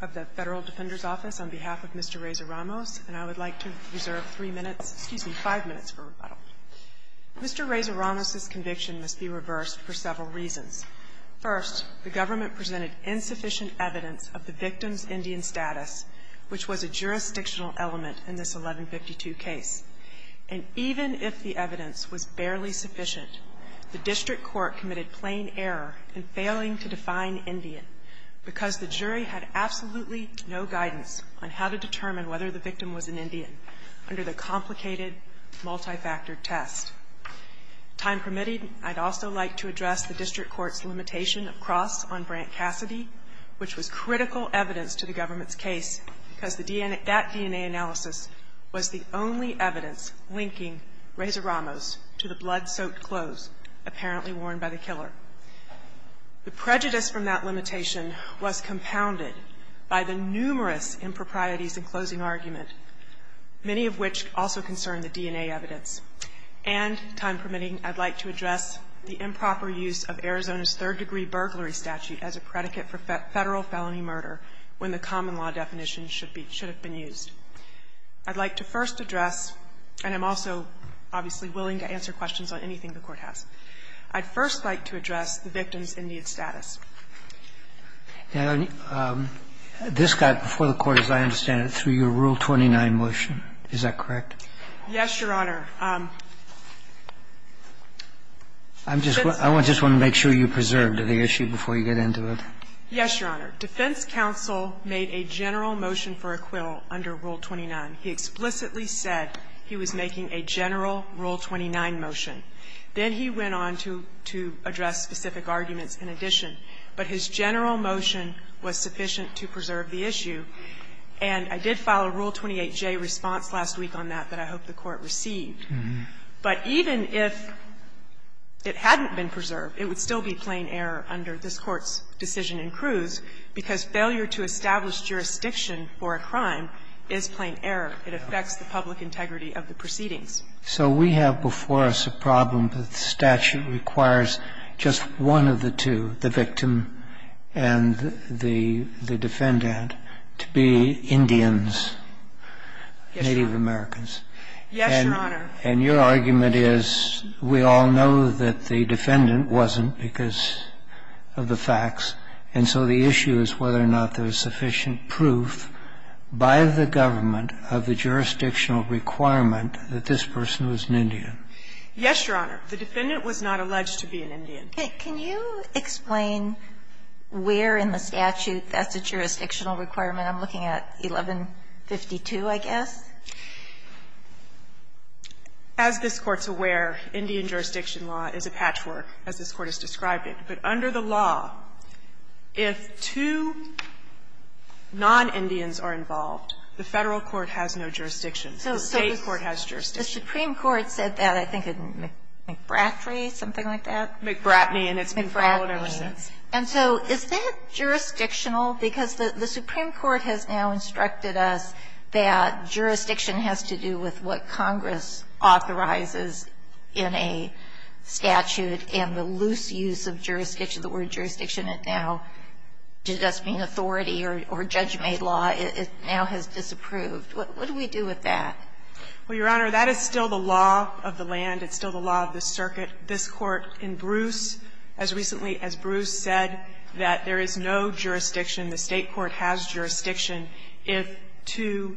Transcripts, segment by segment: of the Federal Defender's Office on behalf of Mr. Reza-Ramos, and I would like to reserve three minutes, excuse me, five minutes for rebuttal. Mr. Reza-Ramos' conviction must be reversed for several reasons. First, the government presented insufficient evidence of the victim's Indian status, which was a jurisdictional element in this 1152 case. And even if the evidence was barely sufficient, the district court committed a plain error in failing to define Indian, because the jury had absolutely no guidance on how to determine whether the victim was an Indian under the complicated multifactor test. Time permitted, I'd also like to address the district court's limitation of cross on Brant Cassidy, which was critical evidence to the government's case, because that DNA analysis was the only evidence linking Reza-Ramos to the blood-soaked clothes apparently worn by the killer. The prejudice from that limitation was compounded by the numerous improprieties in closing argument, many of which also concern the DNA evidence. And, time permitting, I'd like to address the improper use of Arizona's third-degree burglary statute as a predicate for Federal felony murder when the common law definition should be used. I'd like to first address, and I'm also obviously willing to answer questions on anything the Court has, I'd first like to address the victim's Indian status. This got before the Court, as I understand it, through your Rule 29 motion. Is that correct? Yes, Your Honor. I just want to make sure you preserve the issue before you get into it. Yes, Your Honor. Defense counsel made a general motion for acquittal under Rule 29. He explicitly said he was making a general Rule 29 motion. Then he went on to address specific arguments in addition. But his general motion was sufficient to preserve the issue. And I did file a Rule 28J response last week on that that I hope the Court received. But even if it hadn't been preserved, it would still be plain error under this Court's decision in Cruz, because failure to establish jurisdiction for a crime is plain error. It affects the public integrity of the proceedings. So we have before us a problem that the statute requires just one of the two, the victim and the defendant, to be Indians, Native Americans. Yes, Your Honor. And your argument is we all know that the defendant wasn't because of the facts, and so the issue is whether or not there was sufficient proof by the government of the jurisdictional requirement that this person was an Indian. Yes, Your Honor. The defendant was not alleged to be an Indian. Can you explain where in the statute that's a jurisdictional requirement? I'm looking at 1152, I guess. As this Court's aware, Indian jurisdiction law is a patchwork, as this Court has described it. But under the law, if two non-Indians are involved, the Federal court has no jurisdiction. The State court has jurisdiction. The Supreme Court said that, I think, in McBratry, something like that. McBratney, and it's been followed ever since. McBratney. And so is that jurisdictional? Because the Supreme Court has now instructed us that jurisdiction has to do with what Congress authorizes in a statute and the use of jurisdiction, the word jurisdiction, it now does not mean authority or judge-made law. It now has disapproved. What do we do with that? Well, Your Honor, that is still the law of the land. It's still the law of the circuit. This Court, in Bruce, as recently as Bruce said, that there is no jurisdiction. The State court has jurisdiction if two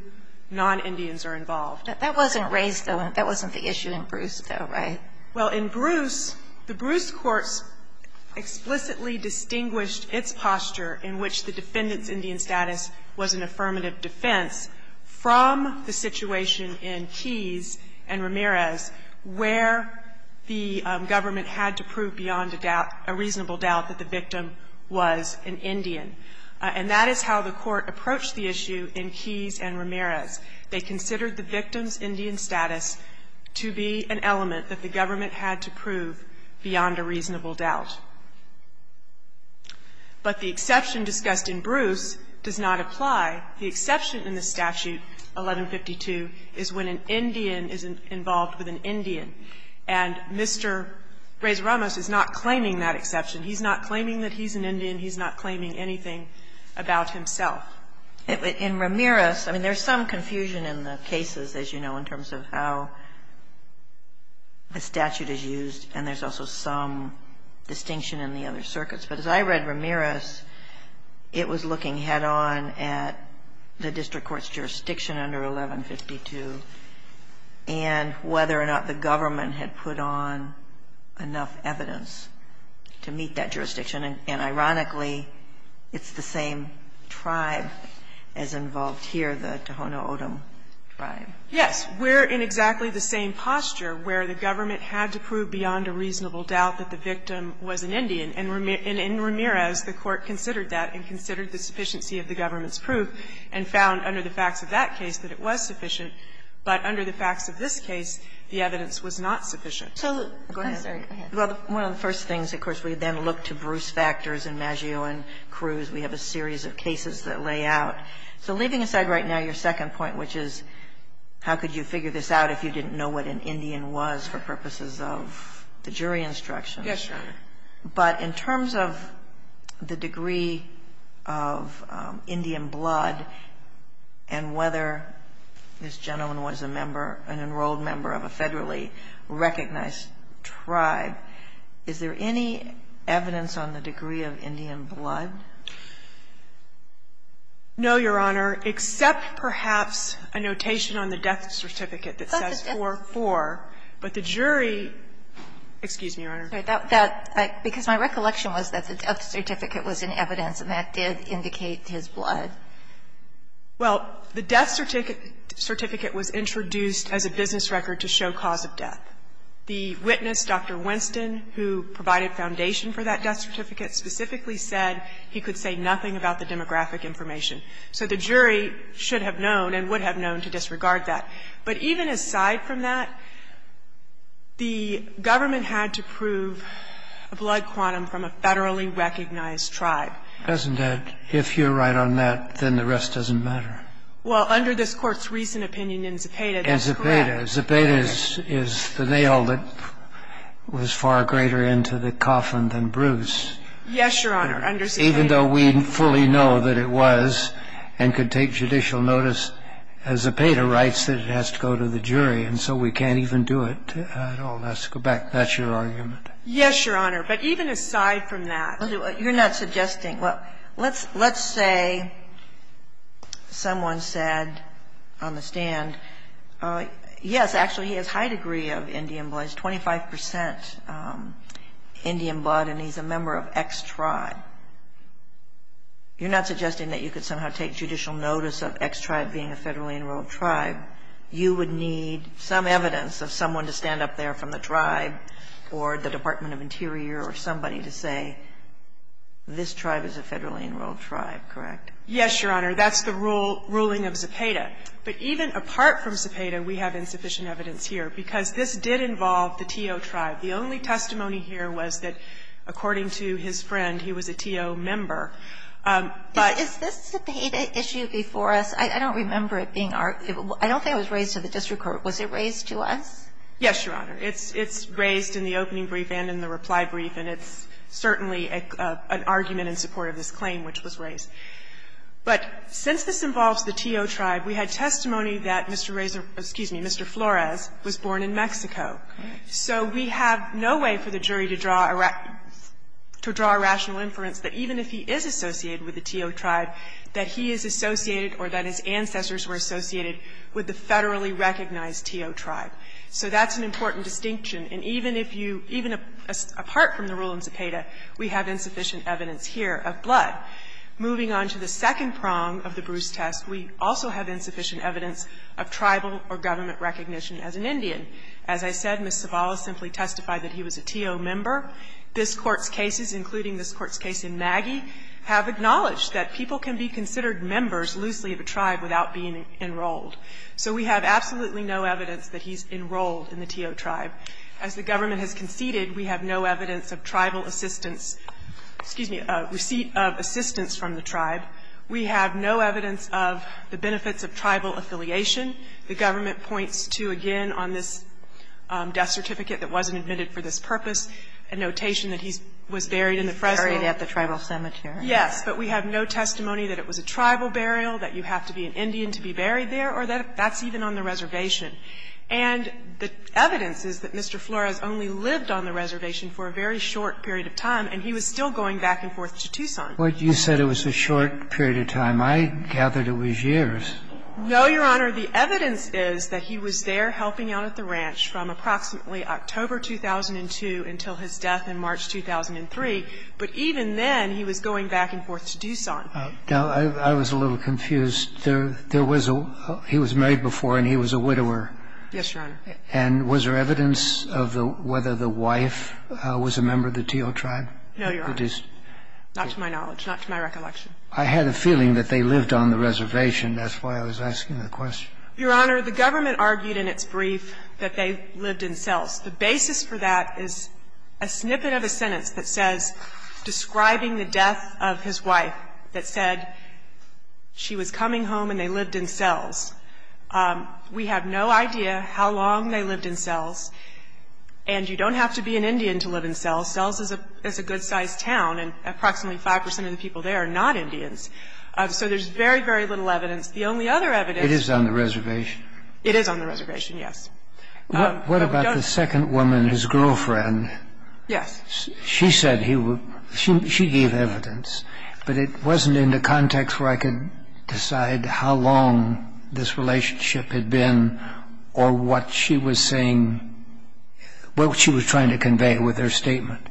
non-Indians are involved. That wasn't raised, though. That wasn't the issue in Bruce, though, right? Well, in Bruce, the Bruce courts explicitly distinguished its posture in which the defendant's Indian status was an affirmative defense from the situation in Keyes and Ramirez where the government had to prove beyond a doubt, a reasonable doubt, that the victim was an Indian. And that is how the Court approached the issue in Keyes and Ramirez. They considered the victim's Indian status to be an element that the government had to prove beyond a reasonable doubt. But the exception discussed in Bruce does not apply. The exception in the statute, 1152, is when an Indian is involved with an Indian. And Mr. Reyes-Ramos is not claiming that exception. He's not claiming that he's an Indian. He's not claiming anything about himself. In Ramirez, I mean, there's some confusion in the cases, as you know, in terms of how the statute is used, and there's also some distinction in the other circuits. But as I read Ramirez, it was looking head-on at the district court's jurisdiction under 1152 and whether or not the government had put on enough evidence to meet that as involved here, the Tohono O'odham tribe. Yes. We're in exactly the same posture where the government had to prove beyond a reasonable doubt that the victim was an Indian. And in Ramirez, the Court considered that and considered the sufficiency of the government's proof and found under the facts of that case that it was sufficient. But under the facts of this case, the evidence was not sufficient. So the go ahead. I'm sorry. Go ahead. Well, one of the first things, of course, we then look to Bruce factors and Maggio and Cruz. We have a series of cases that lay out. So leaving aside right now your second point, which is how could you figure this out if you didn't know what an Indian was for purposes of the jury instructions. Yes, Your Honor. But in terms of the degree of Indian blood and whether this gentleman was a member an enrolled member of a federally recognized tribe, is there any evidence on the degree of Indian blood? No, Your Honor, except perhaps a notation on the death certificate that says 4-4. But the jury – excuse me, Your Honor. That – because my recollection was that the death certificate was in evidence and that did indicate his blood. Well, the death certificate was introduced as a business record to show cause of death. The witness, Dr. Winston, who provided foundation for that death certificate, specifically said he could say nothing about the demographic information. So the jury should have known and would have known to disregard that. But even aside from that, the government had to prove a blood quantum from a federally recognized tribe. President, if you're right on that, then the rest doesn't matter. Well, under this Court's recent opinion in Zepeda, that's correct. In Zepeda. Zepeda is the nail that was far greater into the coffin than Bruce. Yes, Your Honor. Under Zepeda. Even though we fully know that it was and could take judicial notice, Zepeda writes that it has to go to the jury, and so we can't even do it at all. Let's go back. That's your argument? Yes, Your Honor. But even aside from that. You're not suggesting. Well, let's say someone said on the stand, yes, actually, he has high degree of Indian blood and he's a member of X tribe. You're not suggesting that you could somehow take judicial notice of X tribe being a federally enrolled tribe. You would need some evidence of someone to stand up there from the tribe or the Department of Interior or somebody to say, this tribe is a federally enrolled tribe, correct? Yes, Your Honor. That's the ruling of Zepeda. But even apart from Zepeda, we have insufficient evidence here because this did involve the Teo tribe. The only testimony here was that, according to his friend, he was a Teo member. But this Zepeda issue before us, I don't remember it being argued. I don't think it was raised to the district court. Was it raised to us? Yes, Your Honor. It's raised in the opening brief and in the reply brief, and it's certainly an argument in support of this claim which was raised. But since this involves the Teo tribe, we had testimony that Mr. Flores was born in Mexico. So we have no way for the jury to draw a rational inference that even if he is associated with the Teo tribe, that he is associated or that his ancestors were associated with the federally recognized Teo tribe. So that's an important distinction. And even if you – even apart from the rule in Zepeda, we have insufficient evidence here of blood. Moving on to the second prong of the Bruce test, we also have insufficient evidence of tribal or government recognition as an Indian. As I said, Ms. Zavala simply testified that he was a Teo member. This Court's cases, including this Court's case in Maggie, have acknowledged that people can be considered members loosely of a tribe without being enrolled. So we have absolutely no evidence that he's enrolled in the Teo tribe. As the government has conceded, we have no evidence of tribal assistance – excuse me, receipt of assistance from the tribe. We have no evidence of the benefits of tribal affiliation. The government points to, again, on this death certificate that wasn't admitted for this purpose, a notation that he was buried in the Fresno. Kagan, He was buried at the tribal cemetery. Yes, but we have no testimony that it was a tribal burial, that you have to be an Indian to be buried there, or that that's even on the reservation. And the evidence is that Mr. Flores only lived on the reservation for a very short period of time, and he was still going back and forth to Tucson. But you said it was a short period of time. I gathered it was years. No, Your Honor. The evidence is that he was there helping out at the ranch from approximately October 2002 until his death in March 2003. But even then, he was going back and forth to Tucson. Now, I was a little confused. There was a – he was married before, and he was a widower. Yes, Your Honor. And was there evidence of whether the wife was a member of the Teo tribe? No, Your Honor, not to my knowledge, not to my recollection. I had a feeling that they lived on the reservation. That's why I was asking the question. Your Honor, the government argued in its brief that they lived in cells. The basis for that is a snippet of a sentence that says, describing the death of his wife, that said she was coming home and they lived in cells. We have no idea how long they lived in cells. And you don't have to be an Indian to live in cells. Cells is a good-sized town, and approximately 5 percent of the people there are not Indians. So there's very, very little evidence. The only other evidence – It is on the reservation. It is on the reservation, yes. What about the second woman, his girlfriend? Yes. She said he was – she gave evidence, but it wasn't in the context where I could decide how long this relationship had been or what she was saying – what she was trying to convey with her statement.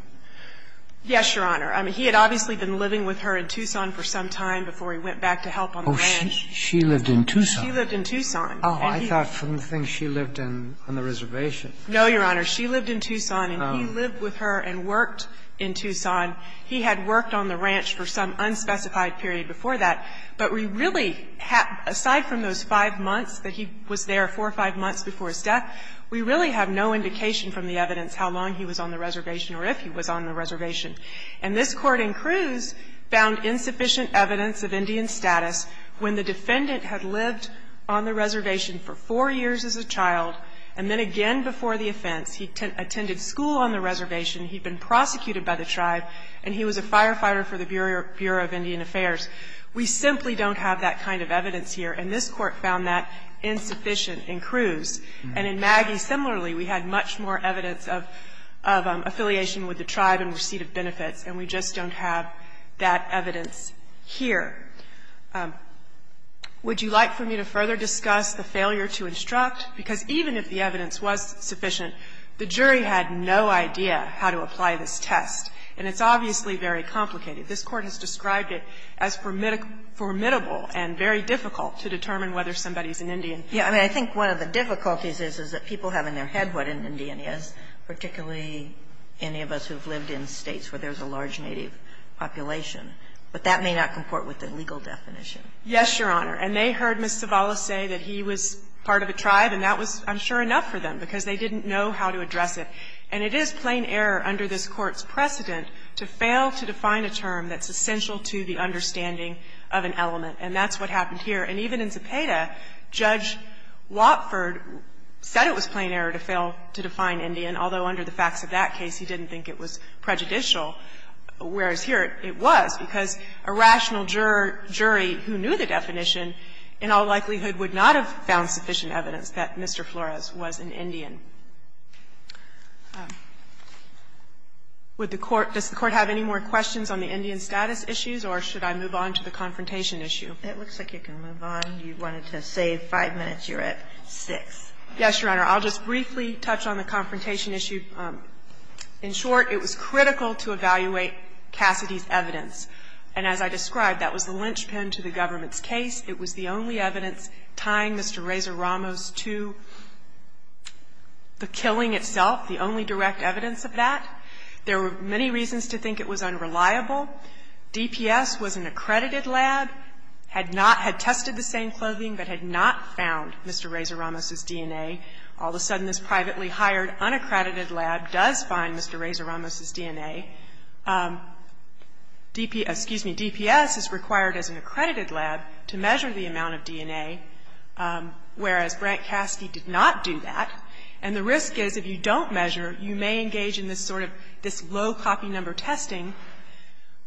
Yes, Your Honor. I mean, he had obviously been living with her in Tucson for some time before he went back to help on the ranch. Oh, she lived in Tucson? She lived in Tucson. Oh, I thought from the thing she lived in on the reservation. No, Your Honor. She lived in Tucson and he lived with her and worked in Tucson. He had worked on the ranch for some unspecified period before that. But we really have, aside from those 5 months that he was there, 4 or 5 months before his death, we really have no indication from the evidence how long he was on the reservation or if he was on the reservation. And this Court in Cruz found insufficient evidence of Indian status when the defendant had lived on the reservation for 4 years as a child, and then again before the offense. He attended school on the reservation. He'd been prosecuted by the tribe, and he was a firefighter for the Bureau of Indian Affairs. We simply don't have that kind of evidence here, and this Court found that insufficient in Cruz. And in Maggie, similarly, we had much more evidence of affiliation with the tribe in receipt of benefits, and we just don't have that evidence here. Would you like for me to further discuss the failure to instruct? Because even if the evidence was sufficient, the jury had no idea how to apply this test. And it's obviously very complicated. This Court has described it as formidable and very difficult to determine whether somebody's an Indian. Yeah. I mean, I think one of the difficulties is, is that people have in their head what an Indian is, particularly any of us who've lived in states where there's a large native population. But that may not comport with the legal definition. Yes, Your Honor. And they heard Ms. Zavala say that he was part of a tribe, and that was, I'm sure, enough for them, because they didn't know how to address it. And it is plain error under this Court's precedent to fail to define a term that's essential to the understanding of an element, and that's what happened here. And even in Zepeda, Judge Watford said it was plain error to fail to define Indian, although under the facts of that case he didn't think it was prejudicial, whereas here it was, because a rational juror jury who knew the definition in all likelihood would not have found sufficient evidence that Mr. Flores was an Indian. Would the Court – does the Court have any more questions on the Indian status issues, or should I move on to the confrontation issue? It looks like you can move on. You wanted to save 5 minutes. You're at 6. Yes, Your Honor. I'll just briefly touch on the confrontation issue. In short, it was critical to evaluate Cassidy's evidence. And as I described, that was the linchpin to the government's case. It was the only evidence tying Mr. Reza Ramos to the killing itself, the only direct evidence of that. There were many reasons to think it was unreliable. DPS was an accredited lab, had not – had tested the same clothing, but had not found Mr. Reza Ramos's DNA. All of a sudden, this privately hired, unaccredited lab does find Mr. Reza Ramos's DNA. DPS – excuse me, DPS is required as an accredited lab to measure the amount of DNA, whereas Brent Cassidy did not do that. And the risk is, if you don't measure, you may engage in this sort of – this low copy number testing.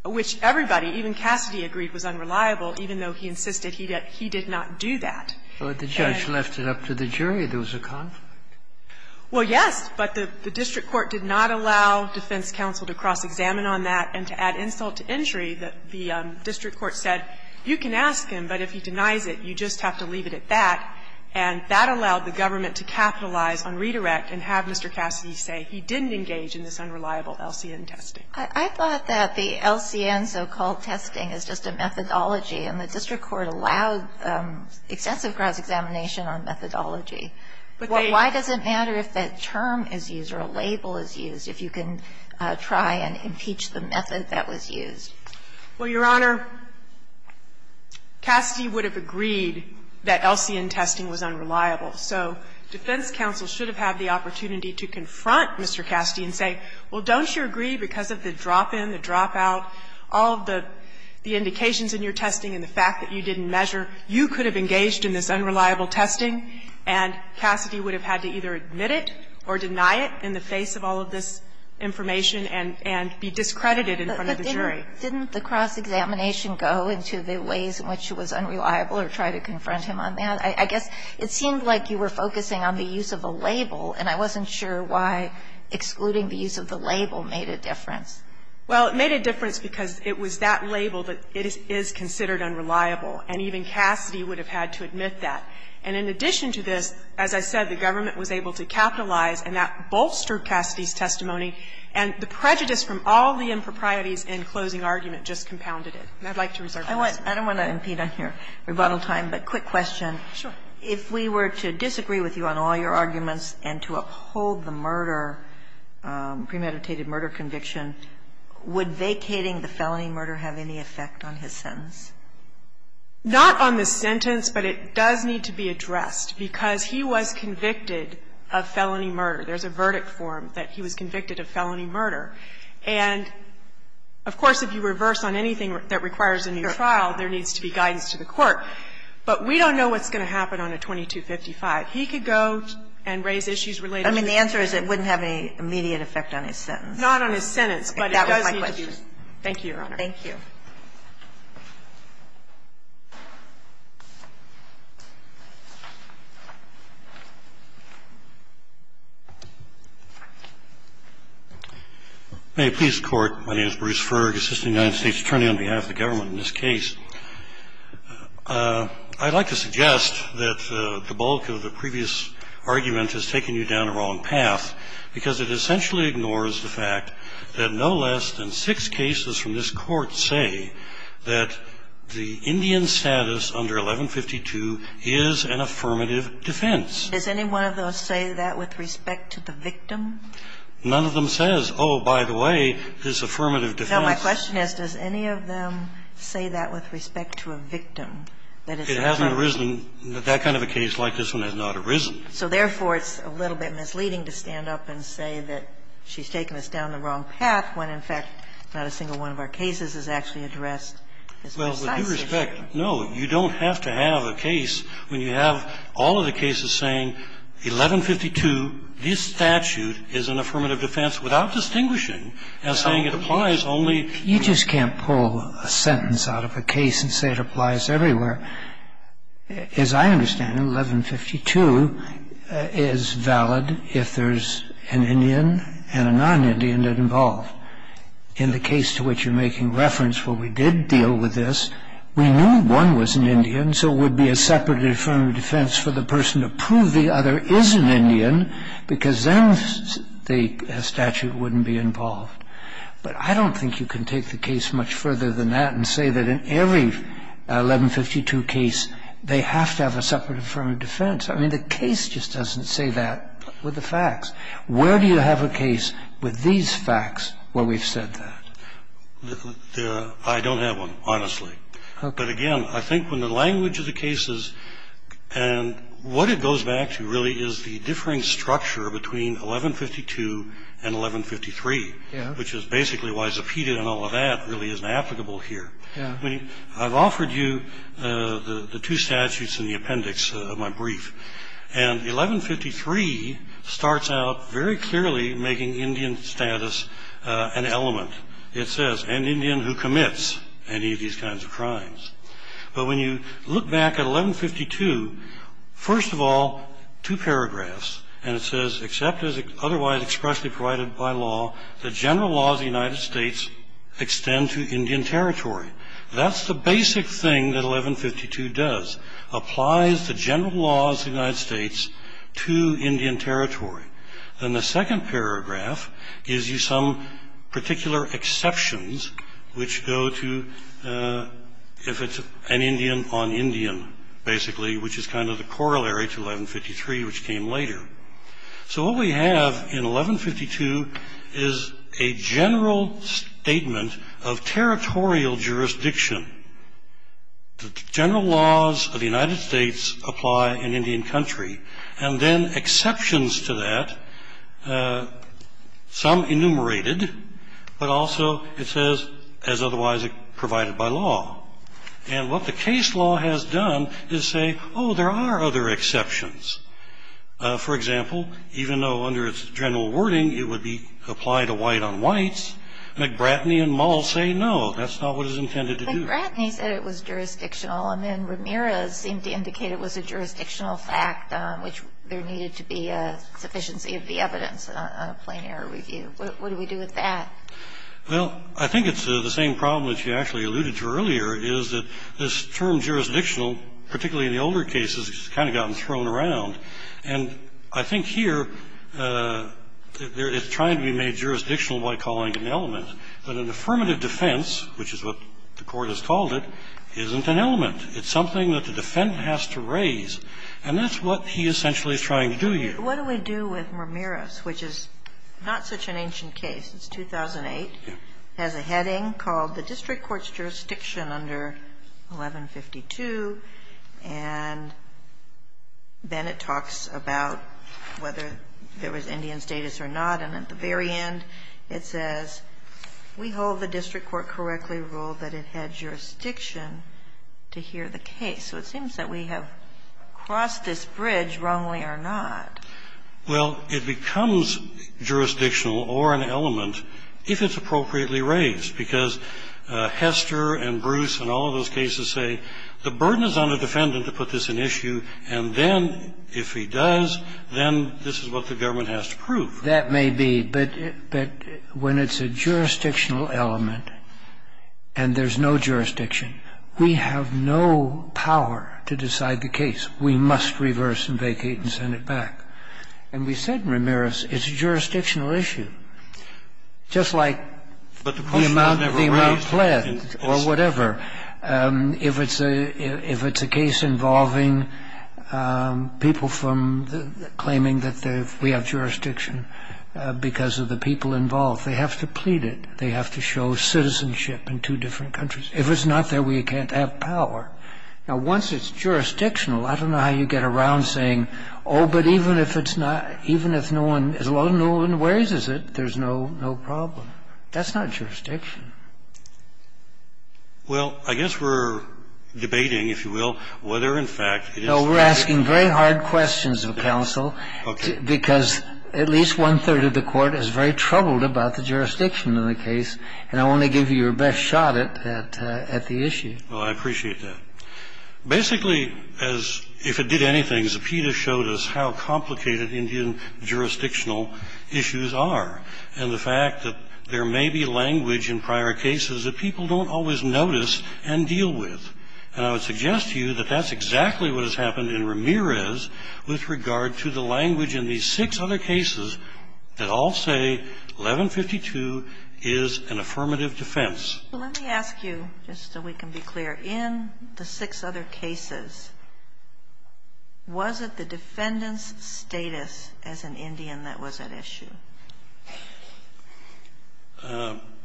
Which everybody, even Cassidy, agreed was unreliable, even though he insisted he did not do that. And the judge left it up to the jury. There was a conflict. Well, yes, but the district court did not allow defense counsel to cross-examine on that and to add insult to injury. The district court said, you can ask him, but if he denies it, you just have to leave it at that. And that allowed the government to capitalize on redirect and have Mr. Cassidy say he didn't engage in this unreliable LCN testing. I thought that the LCN so-called testing is just a methodology, and the district court allowed extensive cross-examination on methodology. Why does it matter if that term is used or a label is used if you can try and impeach the method that was used? Well, Your Honor, Cassidy would have agreed that LCN testing was unreliable. So defense counsel should have had the opportunity to confront Mr. Cassidy and say, well, don't you agree, because of the drop-in, the drop-out, all of the indications in your testing and the fact that you didn't measure, you could have engaged in this unreliable testing, and Cassidy would have had to either admit it or deny it in the face of all of this information and be discredited in front of the jury. But didn't the cross-examination go into the ways in which it was unreliable or try to confront him on that? I guess it seemed like you were focusing on the use of a label, and I wasn't sure why excluding the use of the label made a difference. Well, it made a difference because it was that label that it is considered unreliable, and even Cassidy would have had to admit that. And in addition to this, as I said, the government was able to capitalize and that bolstered Cassidy's testimony, and the prejudice from all the improprieties in closing argument just compounded it. And I'd like to reserve my time. I don't want to impede on your rebuttal time, but quick question. Sure. If we were to disagree with you on all your arguments and to uphold the murder, premeditated murder conviction, would vacating the felony murder have any effect on his sentence? Not on the sentence, but it does need to be addressed, because he was convicted of felony murder. There's a verdict form that he was convicted of felony murder. And, of course, if you reverse on anything that requires a new trial, there needs to be guidance to the court. But we don't know what's going to happen on a 2255. He could go and raise issues related to the felony murder. I mean, the answer is it wouldn't have any immediate effect on his sentence. Not on his sentence, but it does need to be addressed. Thank you, Your Honor. Thank you. May it please the Court. My name is Bruce Ferg, assistant United States attorney on behalf of the government in this case. I'd like to suggest that the bulk of the previous argument has taken you down the wrong path, because it essentially ignores the fact that no less than six cases from this Court say that the Indian status under 1152 is an affirmative defense. Does any one of those say that with respect to the victim? None of them says, oh, by the way, this affirmative defense. Now, my question is, does any of them say that with respect to a victim, that it's an affirmative defense? It hasn't arisen. That kind of a case like this one has not arisen. So therefore, it's a little bit misleading to stand up and say that she's taken us down the wrong path when, in fact, not a single one of our cases has actually addressed this precise issue. Well, with due respect, no, you don't have to have a case when you have all of the cases saying 1152, this statute is an affirmative defense without distinguishing the individual. And it's a statutory individual. And saying it applies only to the individual. You just can't pull a sentence out of a case and say it applies everywhere. As I understand it, 1152 is valid if there's an Indian and a non-Indian that involve. But I don't think you can take the case much further than that and say that in every 1152 case, they have to have a separate affirmative defense. I mean, the case just doesn't say that with the facts. Where do you have a case with these facts where we've said that? I don't have one, honestly. But again, I think when the language of the cases and what it goes back to really is the differing structure between 1152 and 1153. Which is basically why Zepeda and all of that really isn't applicable here. I've offered you the two statutes in the appendix of my brief. And 1153 starts out very clearly making Indian status an element. It says, an Indian who commits any of these kinds of crimes. But when you look back at 1152, first of all, two paragraphs, and it says, except as otherwise expressly provided by law, the general laws of the United States extend to Indian territory. That's the basic thing that 1152 does, applies the general laws of the United States to Indian territory. Then the second paragraph gives you some particular exceptions, which go to if it's an Indian on Indian, basically, which is kind of the corollary to 1153, which came later. So what we have in 1152 is a general statement of territorial jurisdiction. The general laws of the United States apply in Indian country. And then exceptions to that, some enumerated, but also it says, as otherwise provided by law. And what the case law has done is say, there are other exceptions. For example, even though under its general wording, it would be applied to white on whites, McBratney and Mull say no, that's not what it's intended to do. McBratney said it was jurisdictional, and then Ramirez seemed to indicate it was a jurisdictional fact, which there needed to be a sufficiency of the evidence, a plain error review. What do we do with that? Well, I think it's the same problem that you actually alluded to earlier, is that this term jurisdictional, particularly in the older cases, has kind of gotten thrown around. And I think here, it's trying to be made jurisdictional by calling it an element. But an affirmative defense, which is what the court has called it, isn't an element. It's something that the defendant has to raise. And that's what he essentially is trying to do here. What do we do with Ramirez, which is not such an ancient case? It's 2008, has a heading called the District Court's Jurisdiction under 1152. And then it talks about whether there was Indian status or not. And at the very end, it says, We hold the District Court correctly ruled that it had jurisdiction to hear the case. So it seems that we have crossed this bridge, wrongly or not. Well, it becomes jurisdictional or an element if it's appropriately raised, because Hester and Bruce and all of those cases say the burden is on the defendant to put this in issue, and then if he does, then this is what the government has to prove. That may be, but when it's a jurisdictional element and there's no jurisdiction, we have no power to decide the case. We must reverse and vacate and send it back. And we said in Ramirez, it's a jurisdictional issue. And it's a jurisdictional issue, just like the amount pledged or whatever. If it's a case involving people claiming that we have jurisdiction because of the people involved, they have to plead it. They have to show citizenship in two different countries. If it's not there, we can't have power. Now, once it's jurisdictional, I don't know how you get around saying, oh, but even if it's not, even if no one, as long as no one raises it, there's no problem. That's not jurisdiction. Well, I guess we're debating, if you will, whether, in fact, it is jurisdiction. No, we're asking very hard questions of counsel, because at least one-third of the Court is very troubled about the jurisdiction of the case, and I want to give you your best shot at the issue. Well, I appreciate that. Basically, as if it did anything, Zepeda showed us how complicated Indian jurisdictional issues are, and the fact that there may be language in prior cases that people don't always notice and deal with. And I would suggest to you that that's exactly what has happened in Ramirez with regard to the language in these six other cases that all say 1152 is an affirmative defense. Let me ask you, just so we can be clear, in the six other cases, was it the defendant's status as an Indian that was at issue?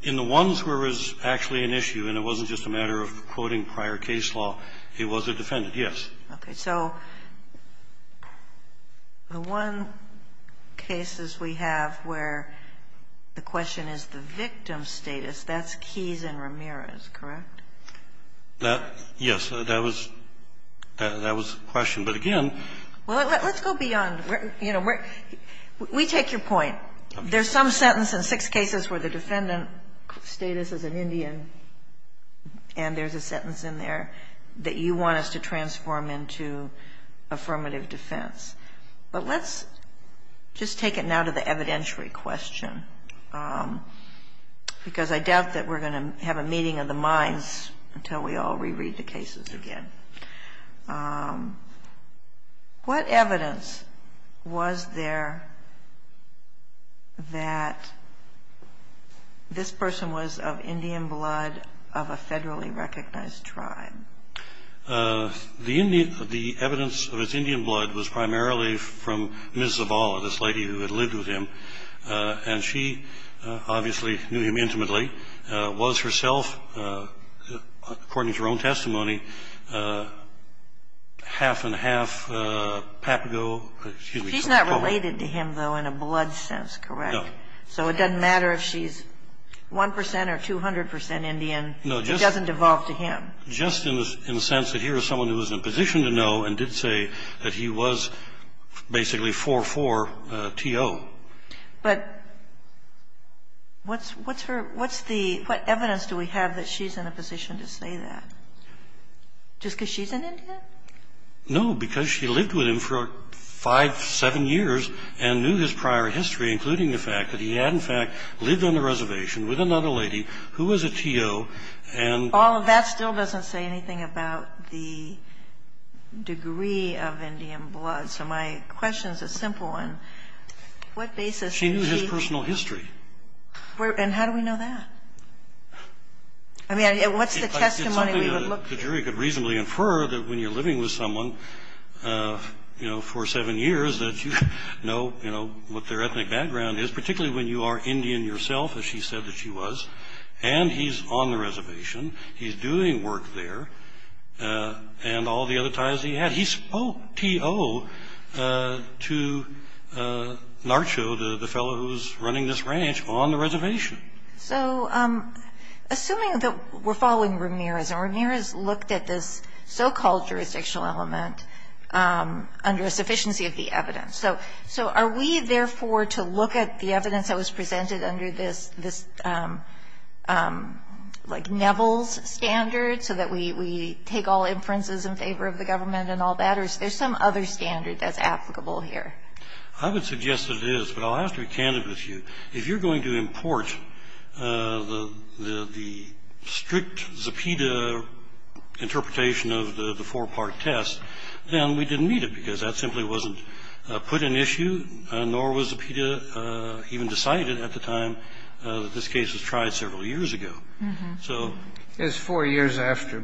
In the ones where it was actually an issue, and it wasn't just a matter of quoting prior case law, it was a defendant, yes. Okay. So the one cases we have where the question is the victim's status, that's keys in Ramirez, correct? Yes. That was the question. But again ---- Well, let's go beyond. You know, we take your point. There's some sentence in six cases where the defendant's status is an Indian, and there's a sentence in there that you want us to transform into affirmative defense. But let's just take it now to the evidentiary question, because I doubt that we're going to have a meeting of the minds until we all reread the cases again. What evidence was there that this person was of Indian blood, of a federally recognized tribe? The evidence of his Indian blood was primarily from Ms. Zavala, this lady who had lived with him, and she obviously knew him intimately, was herself, according to her own testimony, half and half Papago, excuse me. She's not related to him, though, in a blood sense, correct? No. So it doesn't matter if she's 1 percent or 200 percent Indian, it doesn't devolve to him. Just in the sense that here is someone who is in a position to know and did say that he was basically 4-4 T.O. But what's her – what's the – what evidence do we have that she's in a position to say that, just because she's an Indian? No, because she lived with him for 5, 7 years and knew his prior history, including the fact that he had, in fact, lived on a reservation with another lady who was a T.O. And – So all of that still doesn't say anything about the degree of Indian blood. So my question is a simple one. What basis did she – She knew his personal history. And how do we know that? I mean, what's the testimony we would look – It's something the jury could reasonably infer that when you're living with someone, you know, for 7 years, that you know, you know, what their ethnic background is, particularly when you are Indian yourself, as she said that she was, and he's on the reservation, he's doing work there, and all the other ties he had. He spoke T.O. to Narcho, the fellow who's running this ranch, on the reservation. So assuming that we're following Ramirez, and Ramirez looked at this so-called jurisdictional element under a sufficiency of the evidence. So are we, therefore, to look at the evidence that was presented under this, like, Neville's standard, so that we take all inferences in favor of the government and all that, or is there some other standard that's applicable here? I would suggest that it is, but I'll have to be candid with you. If you're going to import the strict Zepeda interpretation of the four-part test, then we didn't need it, because that simply wasn't put in issue, nor was the Zepeda even decided at the time that this case was tried several years ago. So. It's four years after,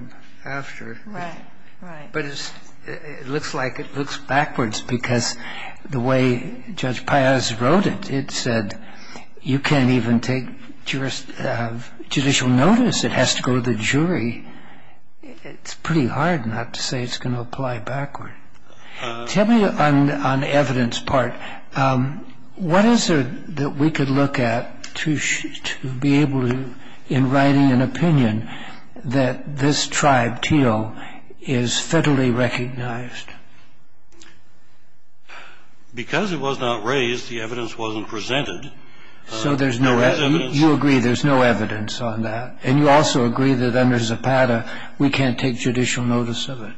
but it looks like it looks backwards, because the way Judge Piaz wrote it, it said, you can't even take judicial notice. It has to go to the jury. It's pretty hard not to say it's going to apply backward. Tell me on the evidence part, what is it that we could look at to be able to, in writing an opinion, that this tribe, Teal, is federally recognized? Because it was not raised, the evidence wasn't presented. So there's no evidence. You agree there's no evidence on that. And you also agree that under Zepeda, we can't take judicial notice of it.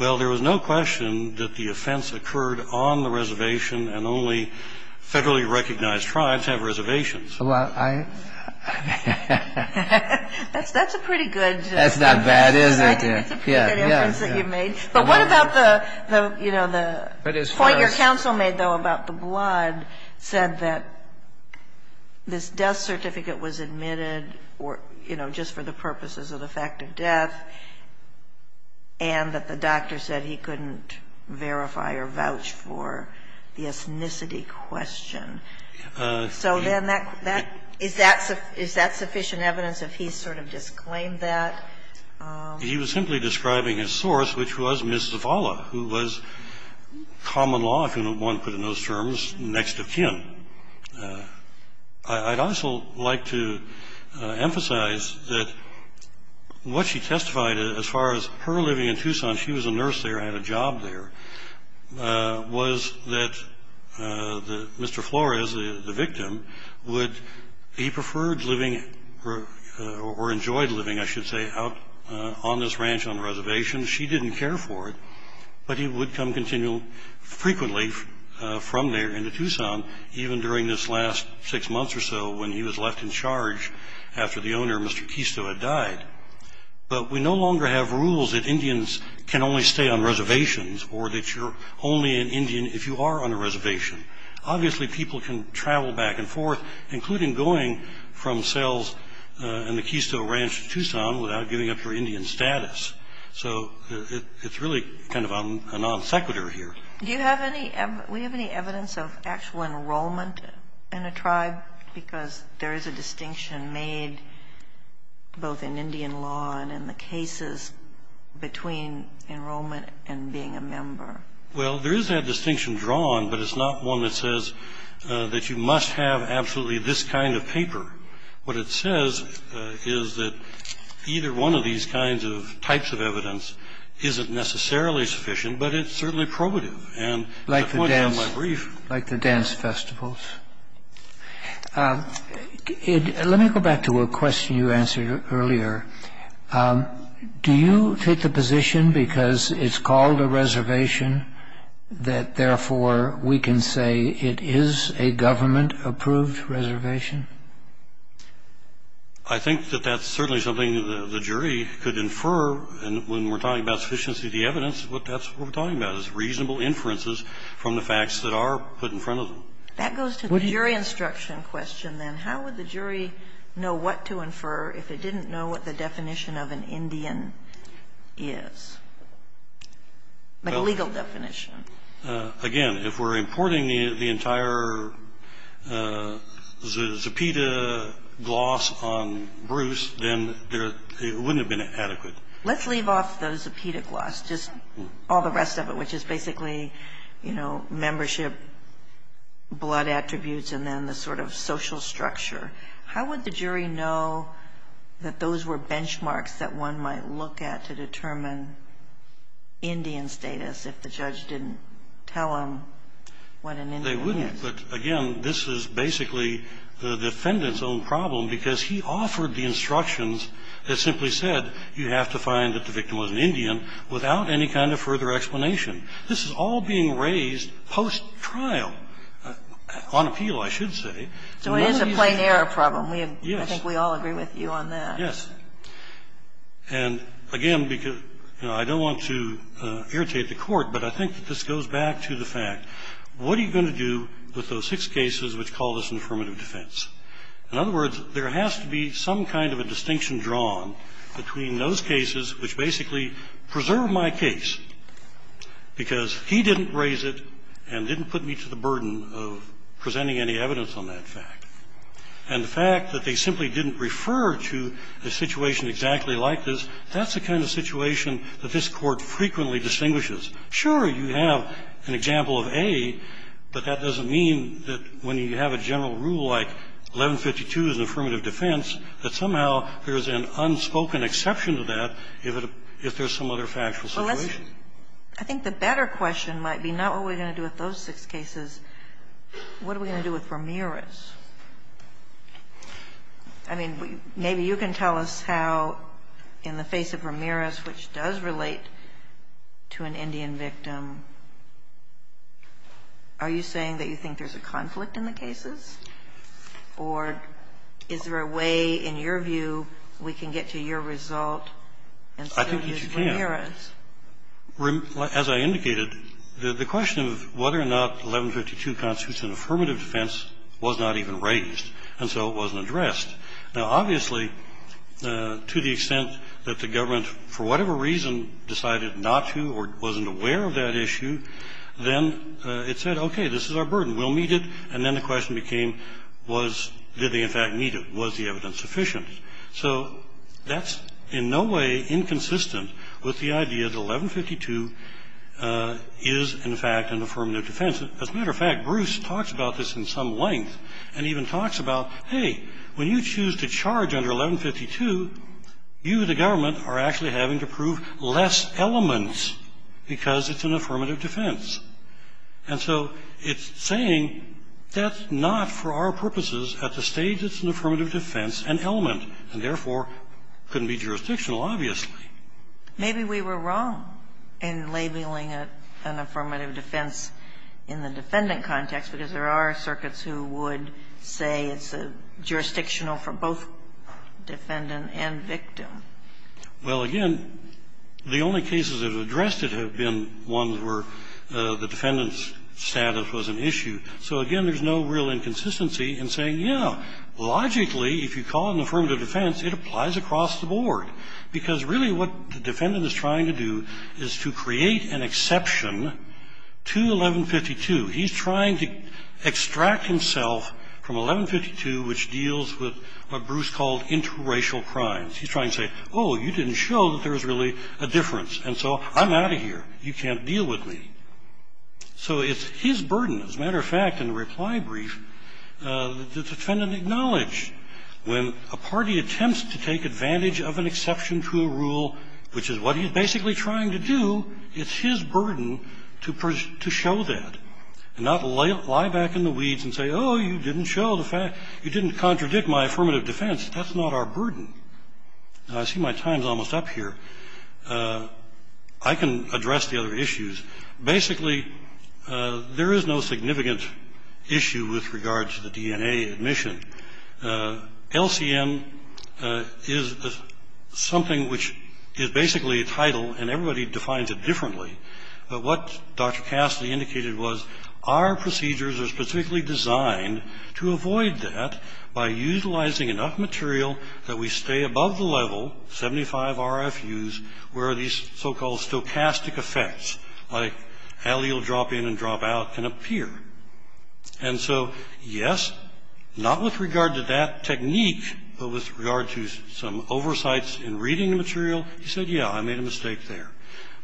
Well, there was no question that the offense occurred on the reservation, and only federally recognized tribes have reservations. Well, I. That's a pretty good. That's not bad, is it? Yeah. That's a pretty good inference that you've made. But what about the, you know, the point your counsel made, though, about the blood said that this death certificate was admitted or, you know, just for the purposes of the fact of death, and that the doctor said he couldn't verify or vouch for the ethnicity question. So then that, is that sufficient evidence if he sort of disclaimed that? He was simply describing a source, which was Ms. Zavala, who was common law, if you can. I'd also like to emphasize that what she testified, as far as her living in Tucson, she was a nurse there, had a job there, was that Mr. Flores, the victim, would, he preferred living, or enjoyed living, I should say, out on this ranch on the reservation. She didn't care for it. But he would come continue frequently from there into Tucson, even during this last six months or so when he was left in charge after the owner, Mr. Quisto, had died. But we no longer have rules that Indians can only stay on reservations, or that you're only an Indian if you are on a reservation. Obviously, people can travel back and forth, including going from Sells and the Quisto Ranch to Tucson without giving up your Indian status. So it's really kind of a non sequitur here. Do you have any, do we have any evidence of actual enrollment in a tribe? Because there is a distinction made both in Indian law and in the cases between enrollment and being a member. Well, there is that distinction drawn, but it's not one that says that you must have absolutely this kind of paper. What it says is that either one of these kinds of types of evidence isn't necessarily sufficient, but it's certainly probative. And at the point of my brief. Like the dance festivals. Let me go back to a question you answered earlier. Do you take the position, because it's called a reservation, that therefore we can say it is a government approved reservation? I think that that's certainly something the jury could infer. And when we're talking about sufficiency of the evidence, that's what we're talking about, is reasonable inferences from the facts that are put in front of them. That goes to the jury instruction question, then. How would the jury know what to infer if it didn't know what the definition of an Indian is, like a legal definition? Again, if we're importing the entire Zepeda gloss on Bruce, then it wouldn't have been adequate. Let's leave off the Zepeda gloss. Just all the rest of it, which is basically, you know, membership, blood attributes, and then the sort of social structure. How would the jury know that those were benchmarks that one might look at to tell them what an Indian is? They wouldn't. But again, this is basically the defendant's own problem, because he offered the instructions that simply said you have to find that the victim was an Indian without any kind of further explanation. This is all being raised post-trial, on appeal, I should say. So it is a plain error problem. Yes. I think we all agree with you on that. Yes. And, again, because, you know, I don't want to irritate the Court, but I think that this goes back to the fact, what are you going to do with those six cases which call this an affirmative defense? In other words, there has to be some kind of a distinction drawn between those cases which basically preserve my case, because he didn't raise it and didn't put me to the burden of presenting any evidence on that fact, and the fact that they simply didn't refer to a situation exactly like this, that's the kind of situation that this Court frequently distinguishes. Sure, you have an example of A, but that doesn't mean that when you have a general rule like 1152 is an affirmative defense, that somehow there is an unspoken exception to that if there is some other factual situation. I think the better question might be not what are we going to do with those six cases. What are we going to do with Ramirez? I mean, maybe you can tell us how, in the face of Ramirez, which does relate to an Indian victim, are you saying that you think there's a conflict in the cases, or is there a way, in your view, we can get to your result and still use Ramirez? I think that you can. As I indicated, the question of whether or not 1152 constitutes an affirmative defense was not even raised, and so it wasn't addressed. Now, obviously, to the extent that the government, for whatever reason, decided not to or wasn't aware of that issue, then it said, okay, this is our burden. We'll meet it, and then the question became was, did they in fact meet it? Was the evidence sufficient? So that's in no way inconsistent with the idea that 1152 is, in fact, an affirmative defense. As a matter of fact, Bruce talks about this in some length and even talks about, hey, when you choose to charge under 1152, you, the government, are actually having to prove less elements because it's an affirmative defense. And so it's saying that's not for our purposes at the stage it's an affirmative defense and element, and therefore couldn't be jurisdictional, obviously. Maybe we were wrong in labeling it an affirmative defense in the defendant context, because there are circuits who would say it's jurisdictional for both defendant and victim. Well, again, the only cases that have addressed it have been ones where the defendant's status was an issue. So, again, there's no real inconsistency in saying, yeah, logically, if you call it an affirmative defense, it applies across the board. Because really what the defendant is trying to do is to create an exception to 1152. He's trying to extract himself from 1152, which deals with what Bruce called interracial crimes. He's trying to say, oh, you didn't show that there was really a difference. And so I'm out of here. You can't deal with me. So it's his burden. As a matter of fact, in the reply brief, the defendant acknowledged when a party attempts to take advantage of an exception to a rule, which is what he's basically trying to do, it's his burden to show that and not lie back in the weeds and say, oh, you didn't show the fact, you didn't contradict my affirmative defense. That's not our burden. And I see my time's almost up here. I can address the other issues. Basically, there is no significant issue with regard to the DNA admission. LCM is something which is basically a title, and everybody defines it differently. But what Dr. Cassidy indicated was, our procedures are specifically designed to avoid that by utilizing enough material that we stay above the level, 75 RFUs, where these so-called stochastic effects, like allele drop in and drop out, can appear. And so, yes, not with regard to that technique, but with regard to some oversights in reading the material, he said, yeah, I made a mistake there.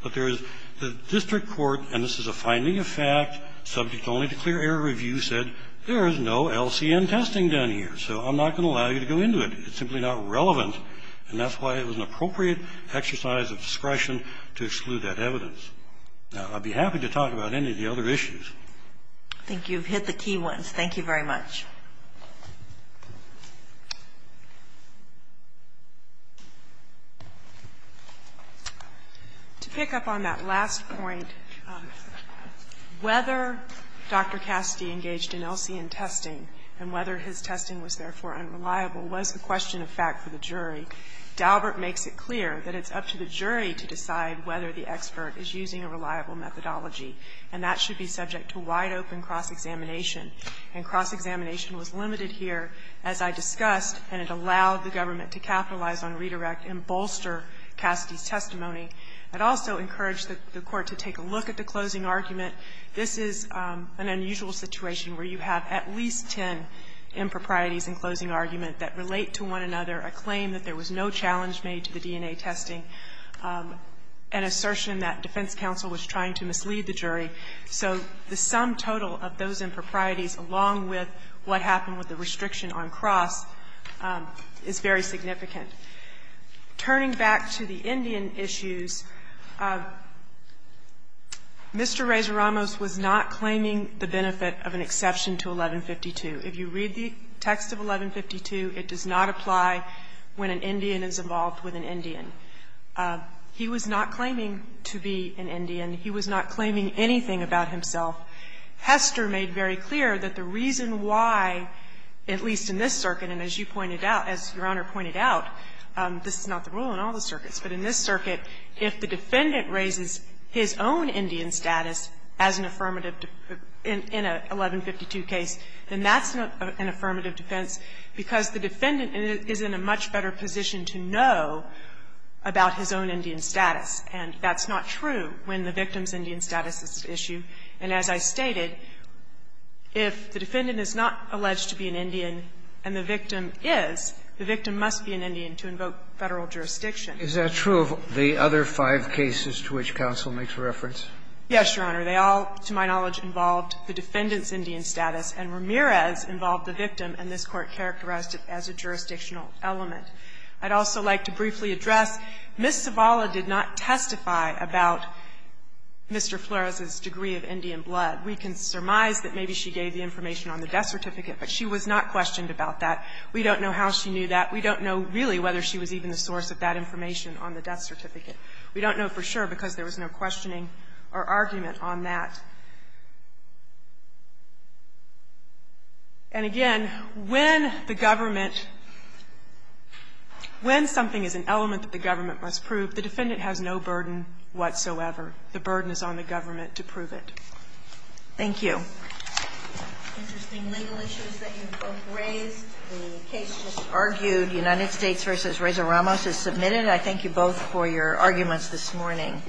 But there is the district court, and this is a finding of fact, subject only to clear error review, said there is no LCM testing done here. So I'm not going to allow you to go into it. It's simply not relevant, and that's why it was an appropriate exercise of discretion to exclude that evidence. Now, I'd be happy to talk about any of the other issues. I think you've hit the key ones. Thank you very much. To pick up on that last point, whether Dr. Cassidy engaged in LCM testing and whether his testing was, therefore, unreliable was a question of fact for the jury. I think Daubert makes it clear that it's up to the jury to decide whether the expert is using a reliable methodology, and that should be subject to wide-open cross-examination. And cross-examination was limited here, as I discussed, and it allowed the government to capitalize on redirect and bolster Cassidy's testimony. I'd also encourage the Court to take a look at the closing argument. This is an unusual situation where you have at least ten improprieties in closing argument that relate to one another, a claim that there was no challenge made to the DNA testing, an assertion that defense counsel was trying to mislead the jury. So the sum total of those improprieties, along with what happened with the restriction on Cross, is very significant. Turning back to the Indian issues, Mr. Reza Ramos was not claiming the benefit of an exception to 1152. If you read the text of 1152, it does not apply when an Indian is involved with an Indian. He was not claiming to be an Indian. He was not claiming anything about himself. Hester made very clear that the reason why, at least in this circuit, and as you pointed out, as Your Honor pointed out, this is not the rule in all the circuits, but in this circuit, if the defendant raises his own Indian status as an affirmative defense in an 1152 case, then that's not an affirmative defense, because the defendant is in a much better position to know about his own Indian status, and that's not true when the victim's Indian status is at issue. And as I stated, if the defendant is not alleged to be an Indian and the victim is, the victim must be an Indian to invoke Federal jurisdiction. Is that true of the other five cases to which counsel makes reference? Yes, Your Honor. They all, to my knowledge, involved the defendant's Indian status, and Ramirez involved the victim, and this Court characterized it as a jurisdictional element. I'd also like to briefly address, Ms. Zavala did not testify about Mr. Flores's degree of Indian blood. We can surmise that maybe she gave the information on the death certificate, but she was not questioned about that. We don't know how she knew that. We don't know really whether she was even the source of that information on the death certificate. We don't know for sure because there was no questioning or argument on that. And again, when the government, when something is an element that the government must prove, the defendant has no burden whatsoever. The burden is on the government to prove it. Thank you. Interesting legal issues that you've both raised. The case just argued, United States v. Reza Ramos, is submitted. I thank you both for your arguments this morning.